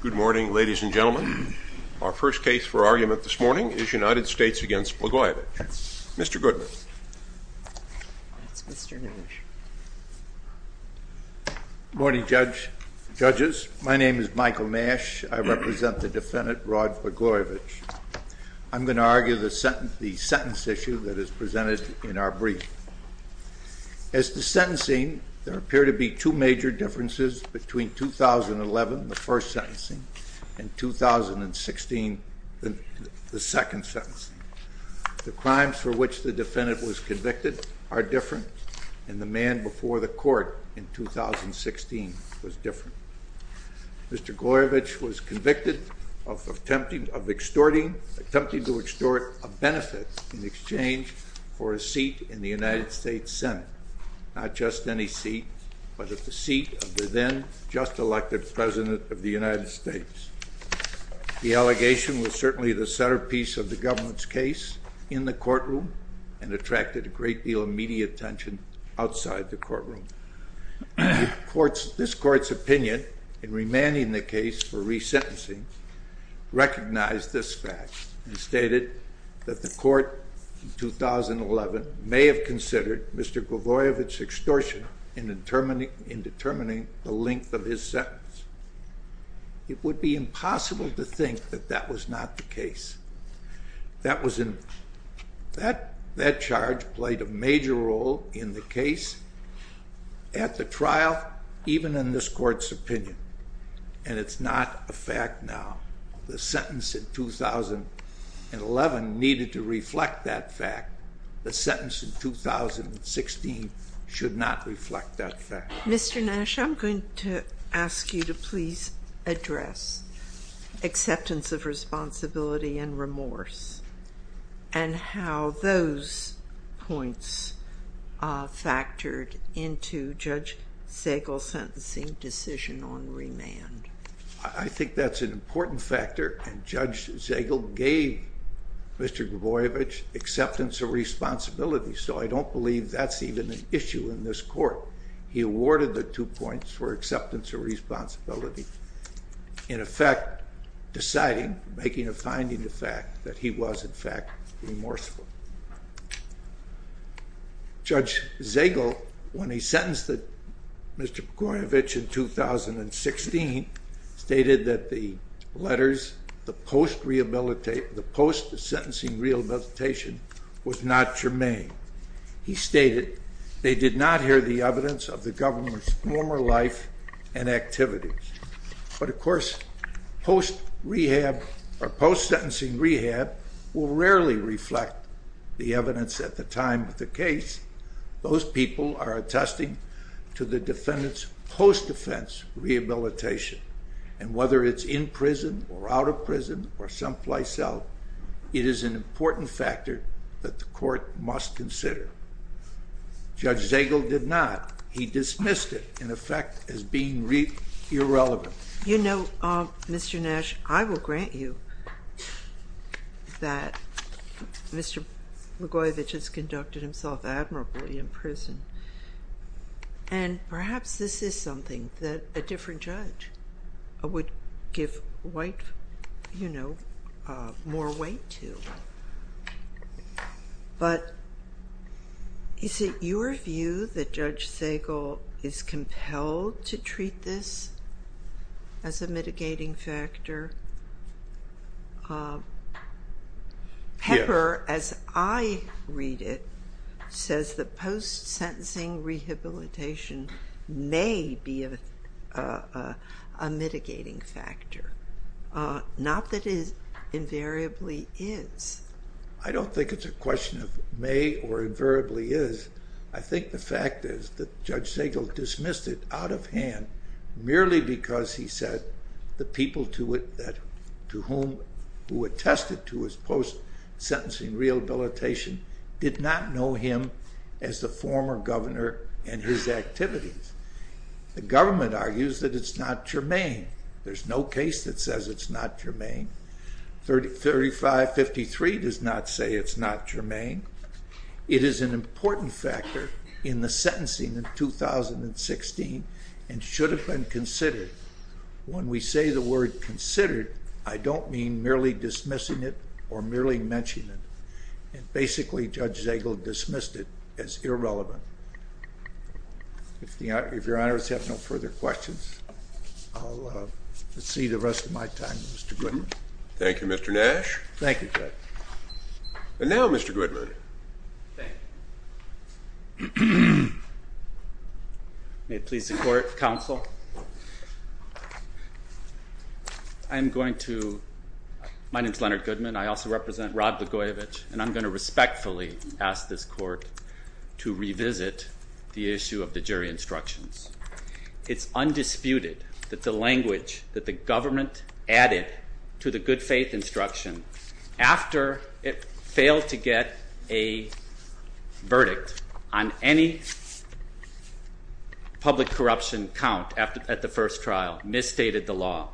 Good morning, ladies and gentlemen. Our first case for argument this morning is United States v. Blagojevich. Mr. Goodman. Good morning, judges. My name is Michael Mash. I represent the defendant, Rod Blagojevich. I'm going to argue the sentence issue that is presented in our briefing. As to sentencing, there appear to be two major differences between 2011, the first sentencing, and 2016, the second sentencing. The crimes for which the defendant was convicted are different, and the man before the court in 2016 was different. Mr. Blagojevich was convicted of attempting to extort a benefit in exchange for a seat in the United States Senate. Not just any seat, but the seat of the then just-elected President of the United States. The allegation was certainly the centerpiece of the government's case in the courtroom and attracted a great deal of media attention outside the courtroom. This court's opinion in remanding the case for resentencing recognized this fact and stated that the court in 2011 may have considered Mr. Blagojevich's extortion in determining the length of his sentence. It would be impossible to think that that was not the case. That charge played a major role in the case, at the trial, even in this court's opinion, and it's not a fact now. The sentence in 2011 needed to reflect that fact. The sentence in 2016 should not reflect that fact. Mr. Nash, I'm going to ask you to please address acceptance of responsibility and remorse and how those points factored into Judge Zegel's sentencing decision on remand. I think that's an important factor, and Judge Zegel gave Mr. Blagojevich acceptance of responsibility, so I don't believe that's even an issue in this court. He awarded the two points for acceptance of responsibility, in effect deciding, making a finding of fact, that he was, in fact, remorseful. Judge Zegel, when he sentenced Mr. Blagojevich in 2016, stated that the letters, the post-sentencing rehabilitation was not germane. He stated they did not hear the evidence of the government's former life and activities. But, of course, post-rehab or post-sentencing rehab will rarely reflect the evidence at the time of the case. Those people are attesting to the defendant's post-defense rehabilitation. And whether it's in prison or out of prison or someplace else, it is an important factor that the court must consider. Judge Zegel did not. He dismissed it, in effect, as being irrelevant. You know, Mr. Nash, I will grant you that Mr. Blagojevich has conducted himself admirably in prison. And perhaps this is something that a different judge would give more weight to. But is it your view that Judge Zegel is compelled to treat this as a mitigating factor? Pepper, as I read it, says that post-sentencing rehabilitation may be a mitigating factor. Not that it invariably is. I don't think it's a question of may or invariably is. I think the fact is that Judge Zegel dismissed it out of hand, merely because he said the people to whom he attested to his post-sentencing rehabilitation did not know him as the former governor and his activities. The government argues that it's not germane. There's no case that says it's not germane. 3553 does not say it's not germane. It is an important factor in the sentencing in 2016 and should have been considered. When we say the word considered, I don't mean merely dismissing it or merely mentioning it. Basically, Judge Zegel dismissed it as irrelevant. If Your Honors have no further questions, I'll cede the rest of my time to Mr. Goodman. Thank you, Mr. Nash. Thank you, Judge. And now, Mr. Goodman. Thank you. May it please the court, counsel. I am going to—my name is Leonard Goodman. I also represent Rod Blagojevich. And I'm going to respectfully ask this court to revisit the issue of the jury instructions. It's undisputed that the language that the government added to the good faith instruction after it failed to get a verdict on any public corruption count at the first trial misstated the law.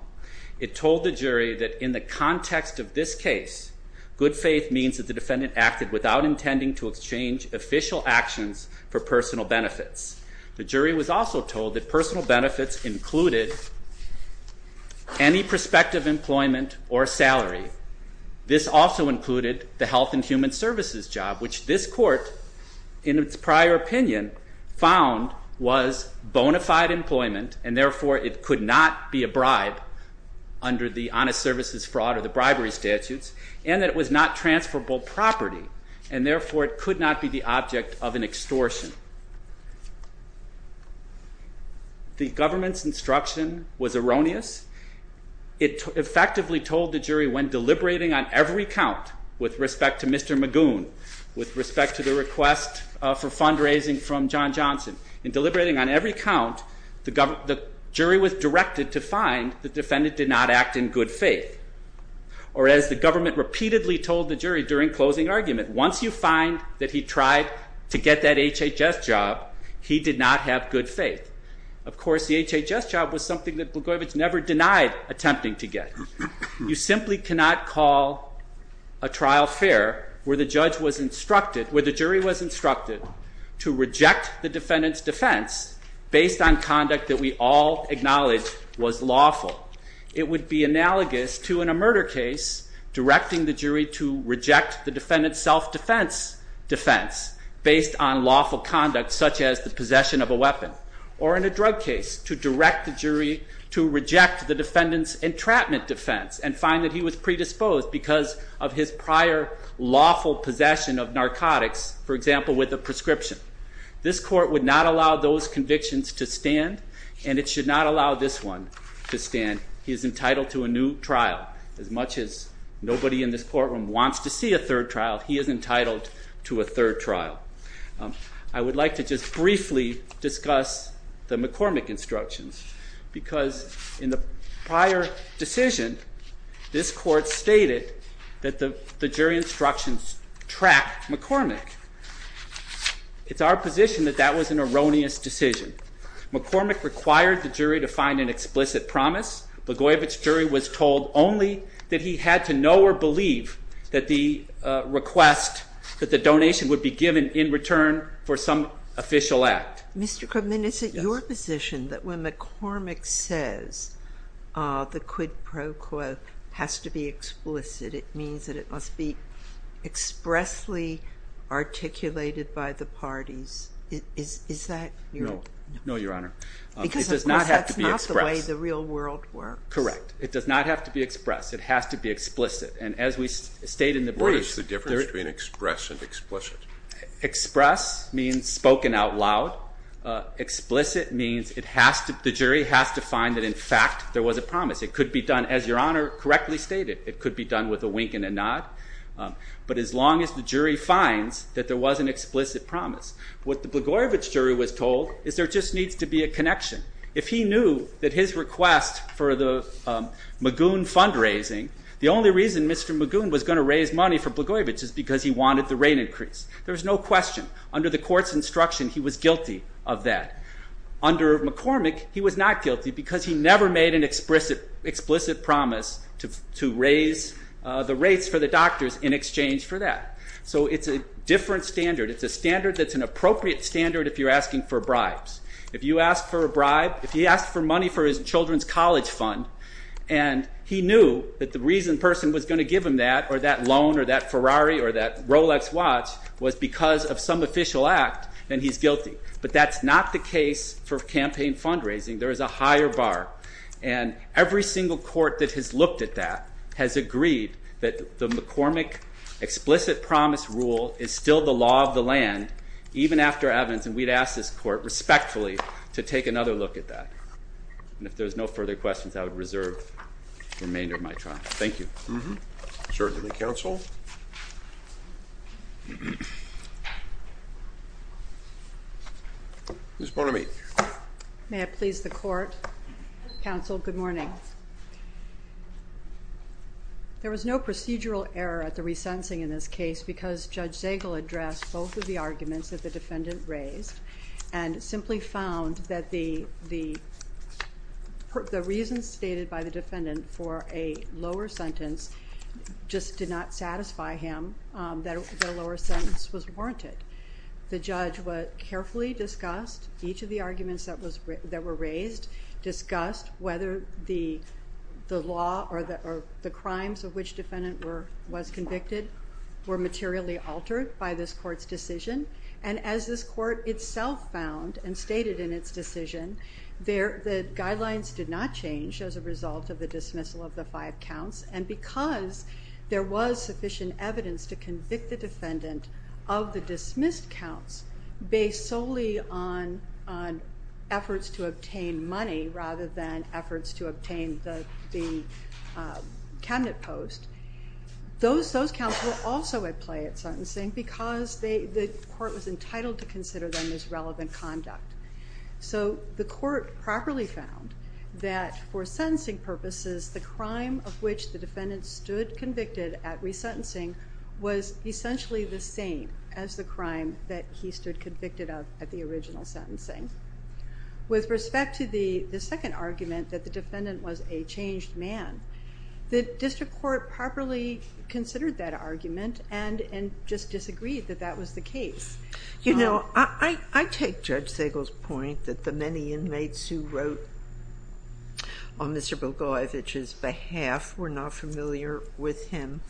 It told the jury that in the context of this case, good faith means that the defendant acted without intending to exchange official actions for personal benefits. The jury was also told that personal benefits included any prospective employment or salary. This also included the health and human services job, which this court, in its prior opinion, found was bona fide employment, and therefore it could not be a bribe under the honest services fraud or the bribery statutes, and that it was not transferable property, and therefore it could not be the object of an extortion. The government's instruction was erroneous. It effectively told the jury when deliberating on every count with respect to Mr. Magoon, with respect to the request for fundraising from John Johnson, in deliberating on every count, the jury was directed to find the defendant did not act in good faith. Or as the government repeatedly told the jury during closing argument, once you find that he tried to get that HHS job, he did not have good faith. Of course, the HHS job was something that Blagojevich never denied attempting to get. You simply cannot call a trial fair where the jury was instructed to reject the defendant's defense based on conduct that we all acknowledge was lawful. It would be analogous to in a murder case directing the jury to reject the defendant's self-defense defense based on lawful conduct such as the possession of a weapon, or in a drug case to direct the jury to reject the defendant's entrapment defense and find that he was predisposed because of his prior lawful possession of narcotics, for example with a prescription. This court would not allow those convictions to stand, and it should not allow this one to stand. He is entitled to a new trial. As much as nobody in this courtroom wants to see a third trial, he is entitled to a third trial. I would like to just briefly discuss the McCormick instructions because in the prior decision, this court stated that the jury instructions track McCormick. It's our position that that was an erroneous decision. McCormick required the jury to find an explicit promise. Blagojevich's jury was told only that he had to know or believe that the request, that the donation would be given in return for some official act. Mr. Krugman, is it your position that when McCormick says the quid pro quo has to be explicit, it means that it must be expressly articulated by the parties? Is that your opinion? No, Your Honor. Because of course that's not the way the real world works. Correct. It does not have to be expressed. It has to be explicit. And as we state in the brief- What is the difference between express and explicit? Express means spoken out loud. Explicit means the jury has to find that, in fact, there was a promise. It could be done, as Your Honor correctly stated, it could be done with a wink and a nod. But as long as the jury finds that there was an explicit promise. What the Blagojevich jury was told is there just needs to be a connection. If he knew that his request for the Magoon fundraising, the only reason Mr. Magoon was going to raise money for Blagojevich is because he wanted the rate increase. There's no question. Under the court's instruction, he was guilty of that. Under McCormick, he was not guilty because he never made an explicit promise to raise the rates for the doctors in exchange for that. So it's a different standard. It's a standard that's an appropriate standard if you're asking for bribes. If you ask for a bribe, if he asked for money for his children's college fund and he knew that the reason the person was going to give him that or that loan or that Ferrari or that Rolex watch was because of some official act, then he's guilty. But that's not the case for campaign fundraising. There is a higher bar, and every single court that has looked at that has agreed that the McCormick explicit promise rule is still the law of the land even after evidence, and we'd ask this court respectfully to take another look at that. And if there's no further questions, I would reserve the remainder of my time. Thank you. Certainly, counsel. Ms. Bonomi. May it please the court. Counsel, good morning. There was no procedural error at the re-sensing in this case because Judge Zegel addressed both of the arguments that the defendant raised and simply found that the reasons stated by the defendant for a lower sentence just did not satisfy him that a lower sentence was warranted. The judge carefully discussed each of the arguments that were raised, discussed whether the law or the crimes of which defendant was convicted were materially altered by this court's decision, and as this court itself found and stated in its decision, the guidelines did not change as a result of the dismissal of the five counts, and because there was sufficient evidence to convict the defendant of the dismissed counts based solely on efforts to obtain money rather than efforts to obtain the cabinet post, those counts were also at play at sentencing because the court was entitled to consider them as relevant conduct. So the court properly found that for sentencing purposes, the crime of which the defendant stood convicted at re-sentencing was essentially the same as the crime that he stood convicted of at the original sentencing. With respect to the second argument that the defendant was a changed man, the district court properly considered that argument and just disagreed that that was the case. You know, I take Judge Segal's point that the many inmates who wrote on Mr. Bilgojevic's behalf were not familiar with him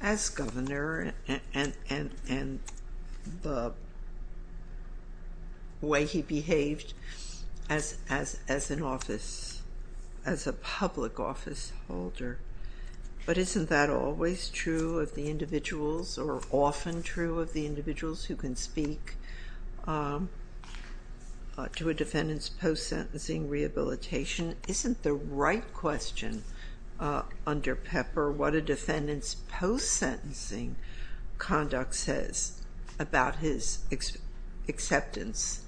as governor and the way he behaved as an office, as a public office holder. But isn't that always true of the individuals or often true of the individuals who can speak to a defendant's post-sentencing rehabilitation? Isn't the right question under Pepper what a defendant's post-sentencing conduct says about his acceptance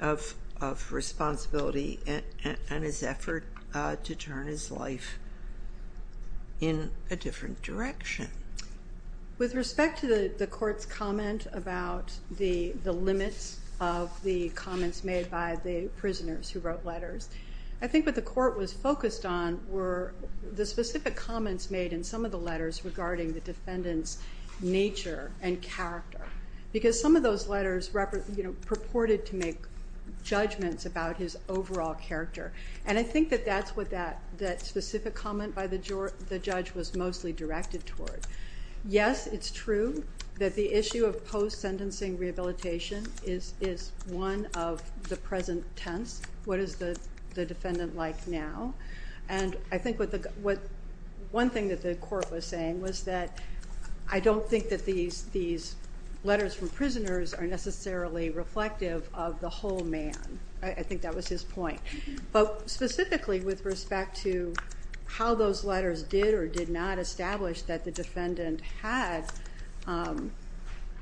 of responsibility and his effort to turn his life in a different direction? With respect to the court's comment about the limits of the comments made by the prisoners who wrote letters, I think what the court was focused on were the specific comments made in some of the letters regarding the defendant's nature and character because some of those letters purported to make judgments about his overall character. And I think that that's what that specific comment by the judge was mostly directed toward. Yes, it's true that the issue of post-sentencing rehabilitation is one of the present tense. What is the defendant like now? And I think one thing that the court was saying was that I don't think that these letters from prisoners are necessarily reflective of the whole man. I think that was his point. But specifically with respect to how those letters did or did not establish that the defendant had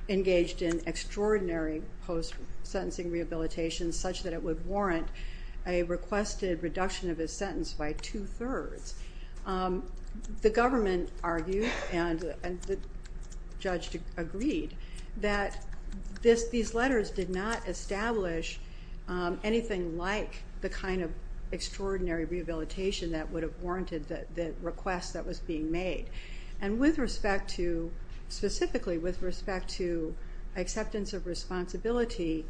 engaged in extraordinary post-sentencing rehabilitation such that it would warrant a requested reduction of his sentence by two-thirds, the government argued and the judge agreed that these letters did not establish anything like the kind of extraordinary rehabilitation that would have warranted the request that was being made. And specifically with respect to acceptance of responsibility,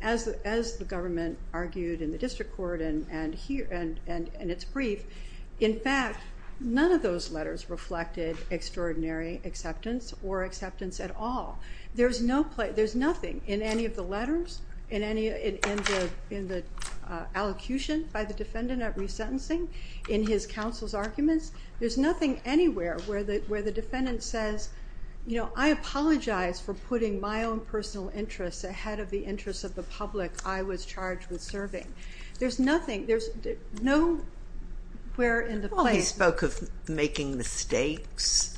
as the government argued in the district court and in its brief, in fact none of those letters reflected extraordinary acceptance or acceptance at all. There's nothing in any of the letters, in the allocution by the defendant at resentencing, in his counsel's arguments. There's nothing anywhere where the defendant says, you know, I apologize for putting my own personal interests ahead of the interests of the public I was charged with serving. There's nothing. There's nowhere in the place. Well, he spoke of making mistakes.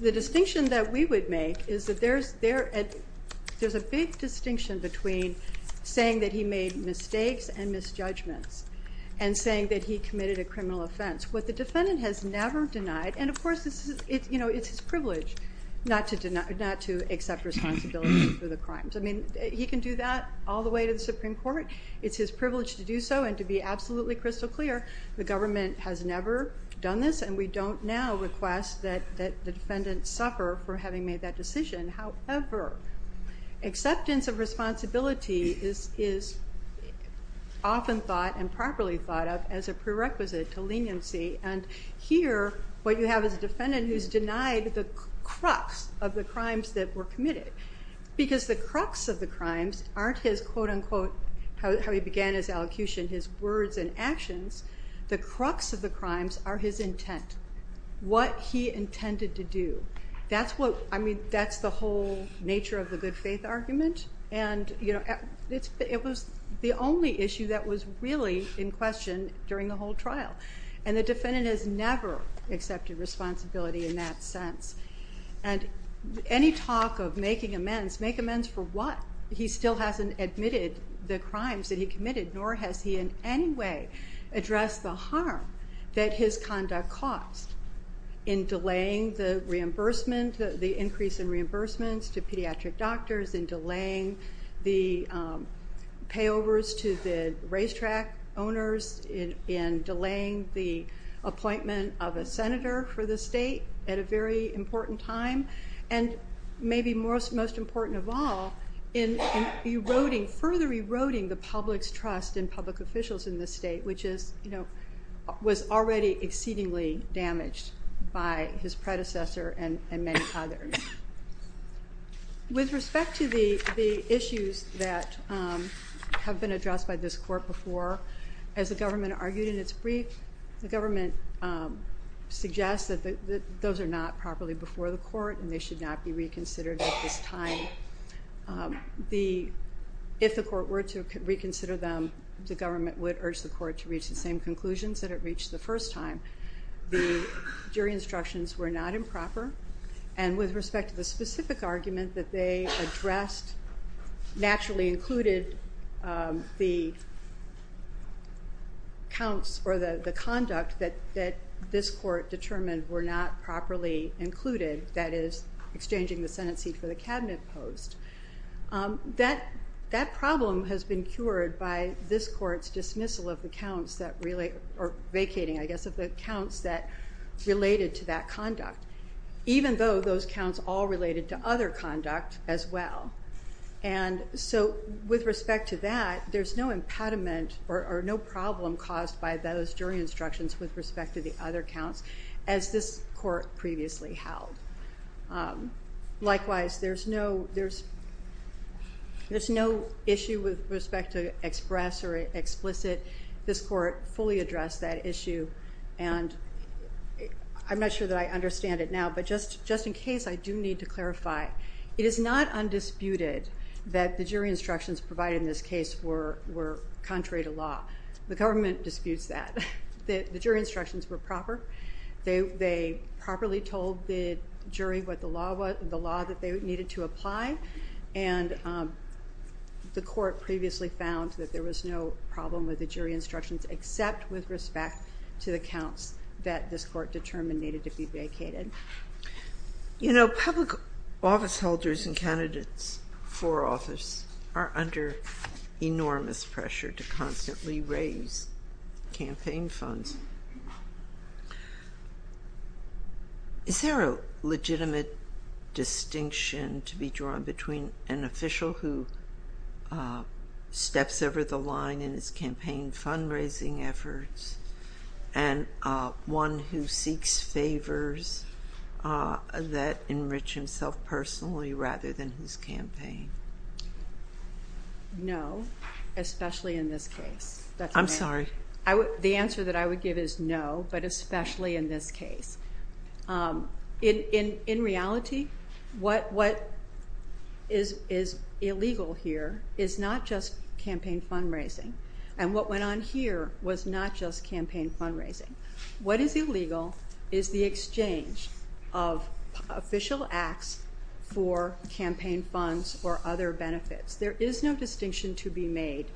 The distinction that we would make is that there's a big distinction between saying that he made mistakes and misjudgments and saying that he committed a criminal offense. What the defendant has never denied, and of course, you know, it's his privilege not to accept responsibility for the crimes. I mean, he can do that all the way to the Supreme Court. It's his privilege to do so and to be absolutely crystal clear, the government has never done this and we don't now request that the defendant suffer for having made that decision. However, acceptance of responsibility is often thought and properly thought of as a prerequisite to leniency, and here what you have is a defendant who's denied the crux of the crimes that were committed because the crux of the crimes aren't his quote, unquote, how he began his allocution, his words and actions. The crux of the crimes are his intent, what he intended to do. That's what, I mean, that's the whole nature of the good faith argument. And, you know, it was the only issue that was really in question during the whole trial. And the defendant has never accepted responsibility in that sense. And any talk of making amends, make amends for what? He still hasn't admitted the crimes that he committed, nor has he in any way addressed the harm that his conduct caused in delaying the reimbursement, the increase in reimbursements to pediatric doctors, in delaying the payovers to the racetrack owners, in delaying the appointment of a senator for the state at a very important time, and maybe most important of all, in further eroding the public's trust in public officials in this state, which was already exceedingly damaged by his predecessor and many others. With respect to the issues that have been addressed by this court before, as the government argued in its brief, the government suggests that those are not properly before the court and they should not be reconsidered at this time. If the court were to reconsider them, the government would urge the court to reach the same conclusions that it reached the first time. The jury instructions were not improper, and with respect to the specific argument that they addressed, naturally included the conduct that this court determined were not properly included, that is, exchanging the senate seat for the cabinet post, that problem has been cured by this court's dismissal of the counts that relate, or vacating, I guess, of the counts that related to that conduct. Even though those counts all related to other conduct as well. And so with respect to that, there's no impediment or no problem caused by those jury instructions with respect to the other counts as this court previously held. Likewise, there's no issue with respect to express or explicit. This court fully addressed that issue, and I'm not sure that I understand it now, but just in case, I do need to clarify. It is not undisputed that the jury instructions provided in this case were contrary to law. The government disputes that. The jury instructions were proper. They properly told the jury what the law was, the law that they needed to apply, and the court previously found that there was no problem with the jury instructions except with respect to the counts that this court determined needed to be vacated. You know, public office holders and candidates for office are under enormous pressure to constantly raise campaign funds. Is there a legitimate distinction to be drawn between an official who steps over the line in his campaign fundraising efforts and one who seeks favors that enrich himself personally rather than his campaign? No, especially in this case. I'm sorry. The answer that I would give is no, but especially in this case. In reality, what is illegal here is not just campaign fundraising, and what went on here was not just campaign fundraising. What is illegal is the exchange of official acts for campaign funds or other benefits. There is no distinction to be made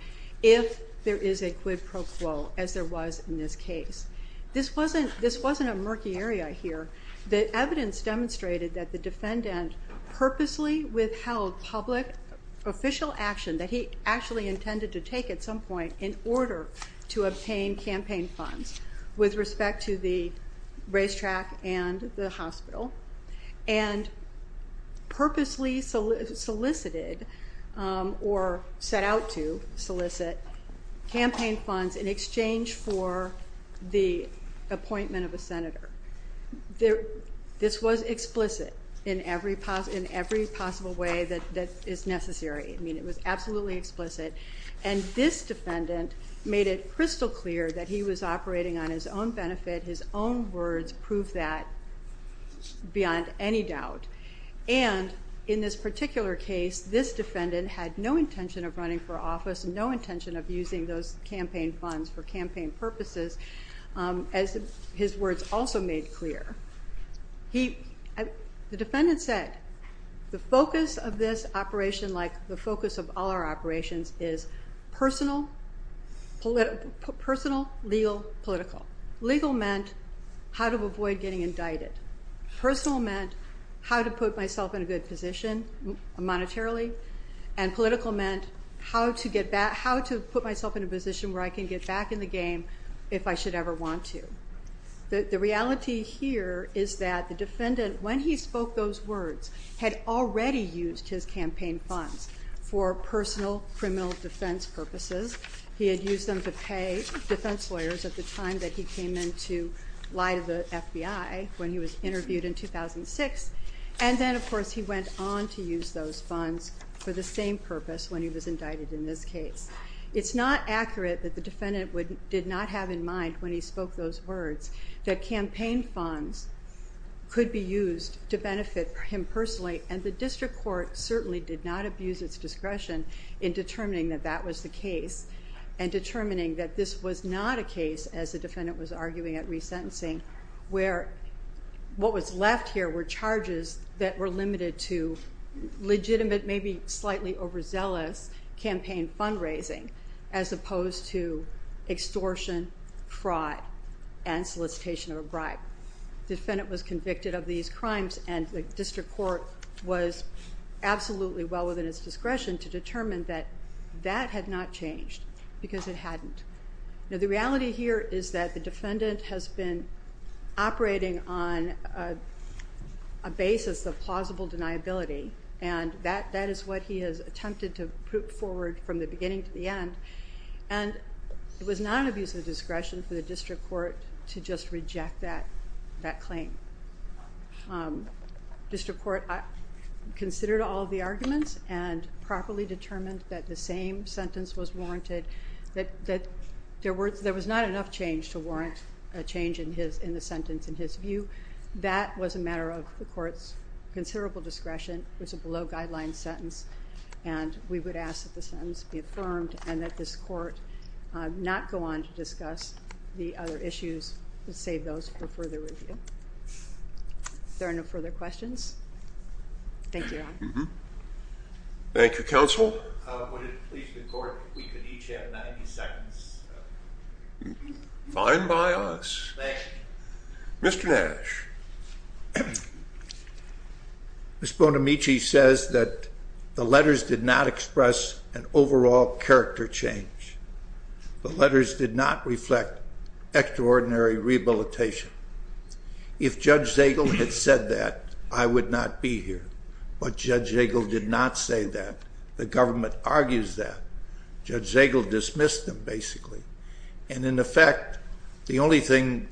if there is a quid pro quo as there was in this case. This wasn't a murky area here. The evidence demonstrated that the defendant purposely withheld public official action that he actually intended to take at some point in order to obtain campaign funds with respect to the racetrack and the hospital and purposely solicited or set out to solicit campaign funds in exchange for the appointment of a senator. This was explicit in every possible way that is necessary. I mean, it was absolutely explicit. And this defendant made it crystal clear that he was operating on his own benefit. His own words proved that beyond any doubt. And in this particular case, this defendant had no intention of running for office and no intention of using those campaign funds for campaign purposes, as his words also made clear. The defendant said the focus of this operation, like the focus of all our operations, is personal, legal, political. Legal meant how to avoid getting indicted. Personal meant how to put myself in a good position monetarily. And political meant how to put myself in a position where I can get back in the game if I should ever want to. The reality here is that the defendant, when he spoke those words, had already used his campaign funds for personal criminal defense purposes. He had used them to pay defense lawyers at the time that he came in to lie to the FBI when he was interviewed in 2006. And then, of course, he went on to use those funds for the same purpose when he was indicted in this case. It's not accurate that the defendant did not have in mind when he spoke those words that campaign funds could be used to benefit him personally, and the district court certainly did not abuse its discretion in determining that that was the case and determining that this was not a case, as the defendant was arguing at resentencing, where what was left here were charges that were limited to legitimate, maybe slightly overzealous campaign fundraising as opposed to extortion, fraud, and solicitation of a bribe. The defendant was convicted of these crimes, and the district court was absolutely well within its discretion to determine that that had not changed because it hadn't. The reality here is that the defendant has been operating on a basis of plausible deniability, and that is what he has attempted to put forward from the beginning to the end, and it was not an abuse of discretion for the district court to just reject that claim. District court considered all of the arguments and properly determined that the same sentence was warranted, that there was not enough change to warrant a change in the sentence in his view. That was a matter of the court's considerable discretion. It was a below-guideline sentence, and we would ask that the sentence be affirmed and that this court not go on to discuss the other issues. We'll save those for further review. Is there any further questions? Thank you, Your Honor. Thank you, counsel. Would it please the court if we could each have 90 seconds? Fine by us. Thank you. Mr. Nash. Ms. Bonamici says that the letters did not express an overall character change. The letters did not reflect extraordinary rehabilitation. If Judge Zagel had said that, I would not be here, but Judge Zagel did not say that. The government argues that. Judge Zagel dismissed them, basically. And, in effect, the only thing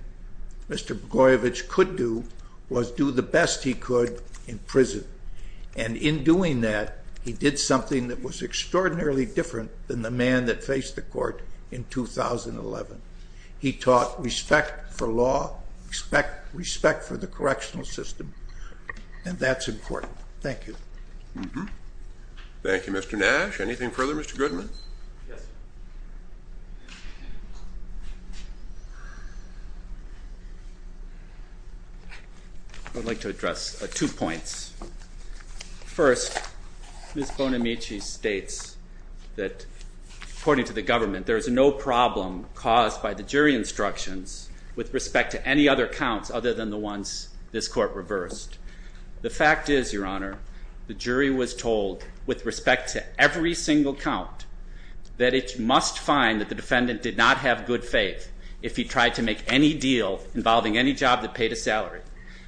Mr. Brgovich could do was do the best he could in prison. And in doing that, he did something that was extraordinarily different than the man that faced the court in 2011. He taught respect for law, respect for the correctional system, and that's important. Thank you. Thank you, Mr. Nash. Anything further, Mr. Goodman? Yes. I would like to address two points. First, Ms. Bonamici states that, according to the government, there is no problem caused by the jury instructions with respect to any other counts other than the ones this court reversed. The fact is, Your Honor, the jury was told, with respect to every single count, that it must find that the defendant did not have good faith if he tried to make any deal involving any job that paid a salary.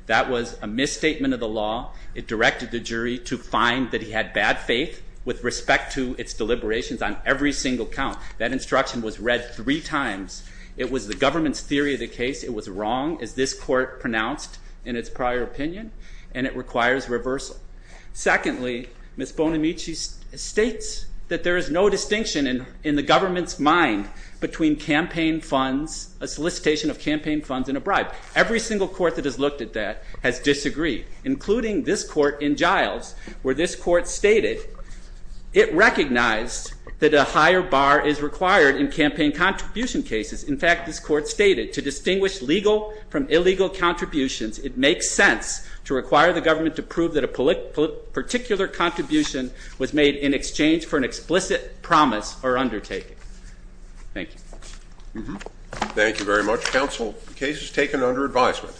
That was a misstatement of the law. It directed the jury to find that he had bad faith with respect to its deliberations on every single count. That instruction was read three times. It was the government's theory of the case. It was wrong, as this court pronounced in its prior opinion, and it requires reversal. Secondly, Ms. Bonamici states that there is no distinction in the government's mind between a solicitation of campaign funds and a bribe. Every single court that has looked at that has disagreed, including this court in Giles, where this court stated it recognized that a higher bar is required in campaign contribution cases. In fact, this court stated, to distinguish legal from illegal contributions, it makes sense to require the government to prove that a particular contribution was made in exchange for an explicit promise or undertaking. Thank you. Thank you very much. Counsel, the case is taken under advisement.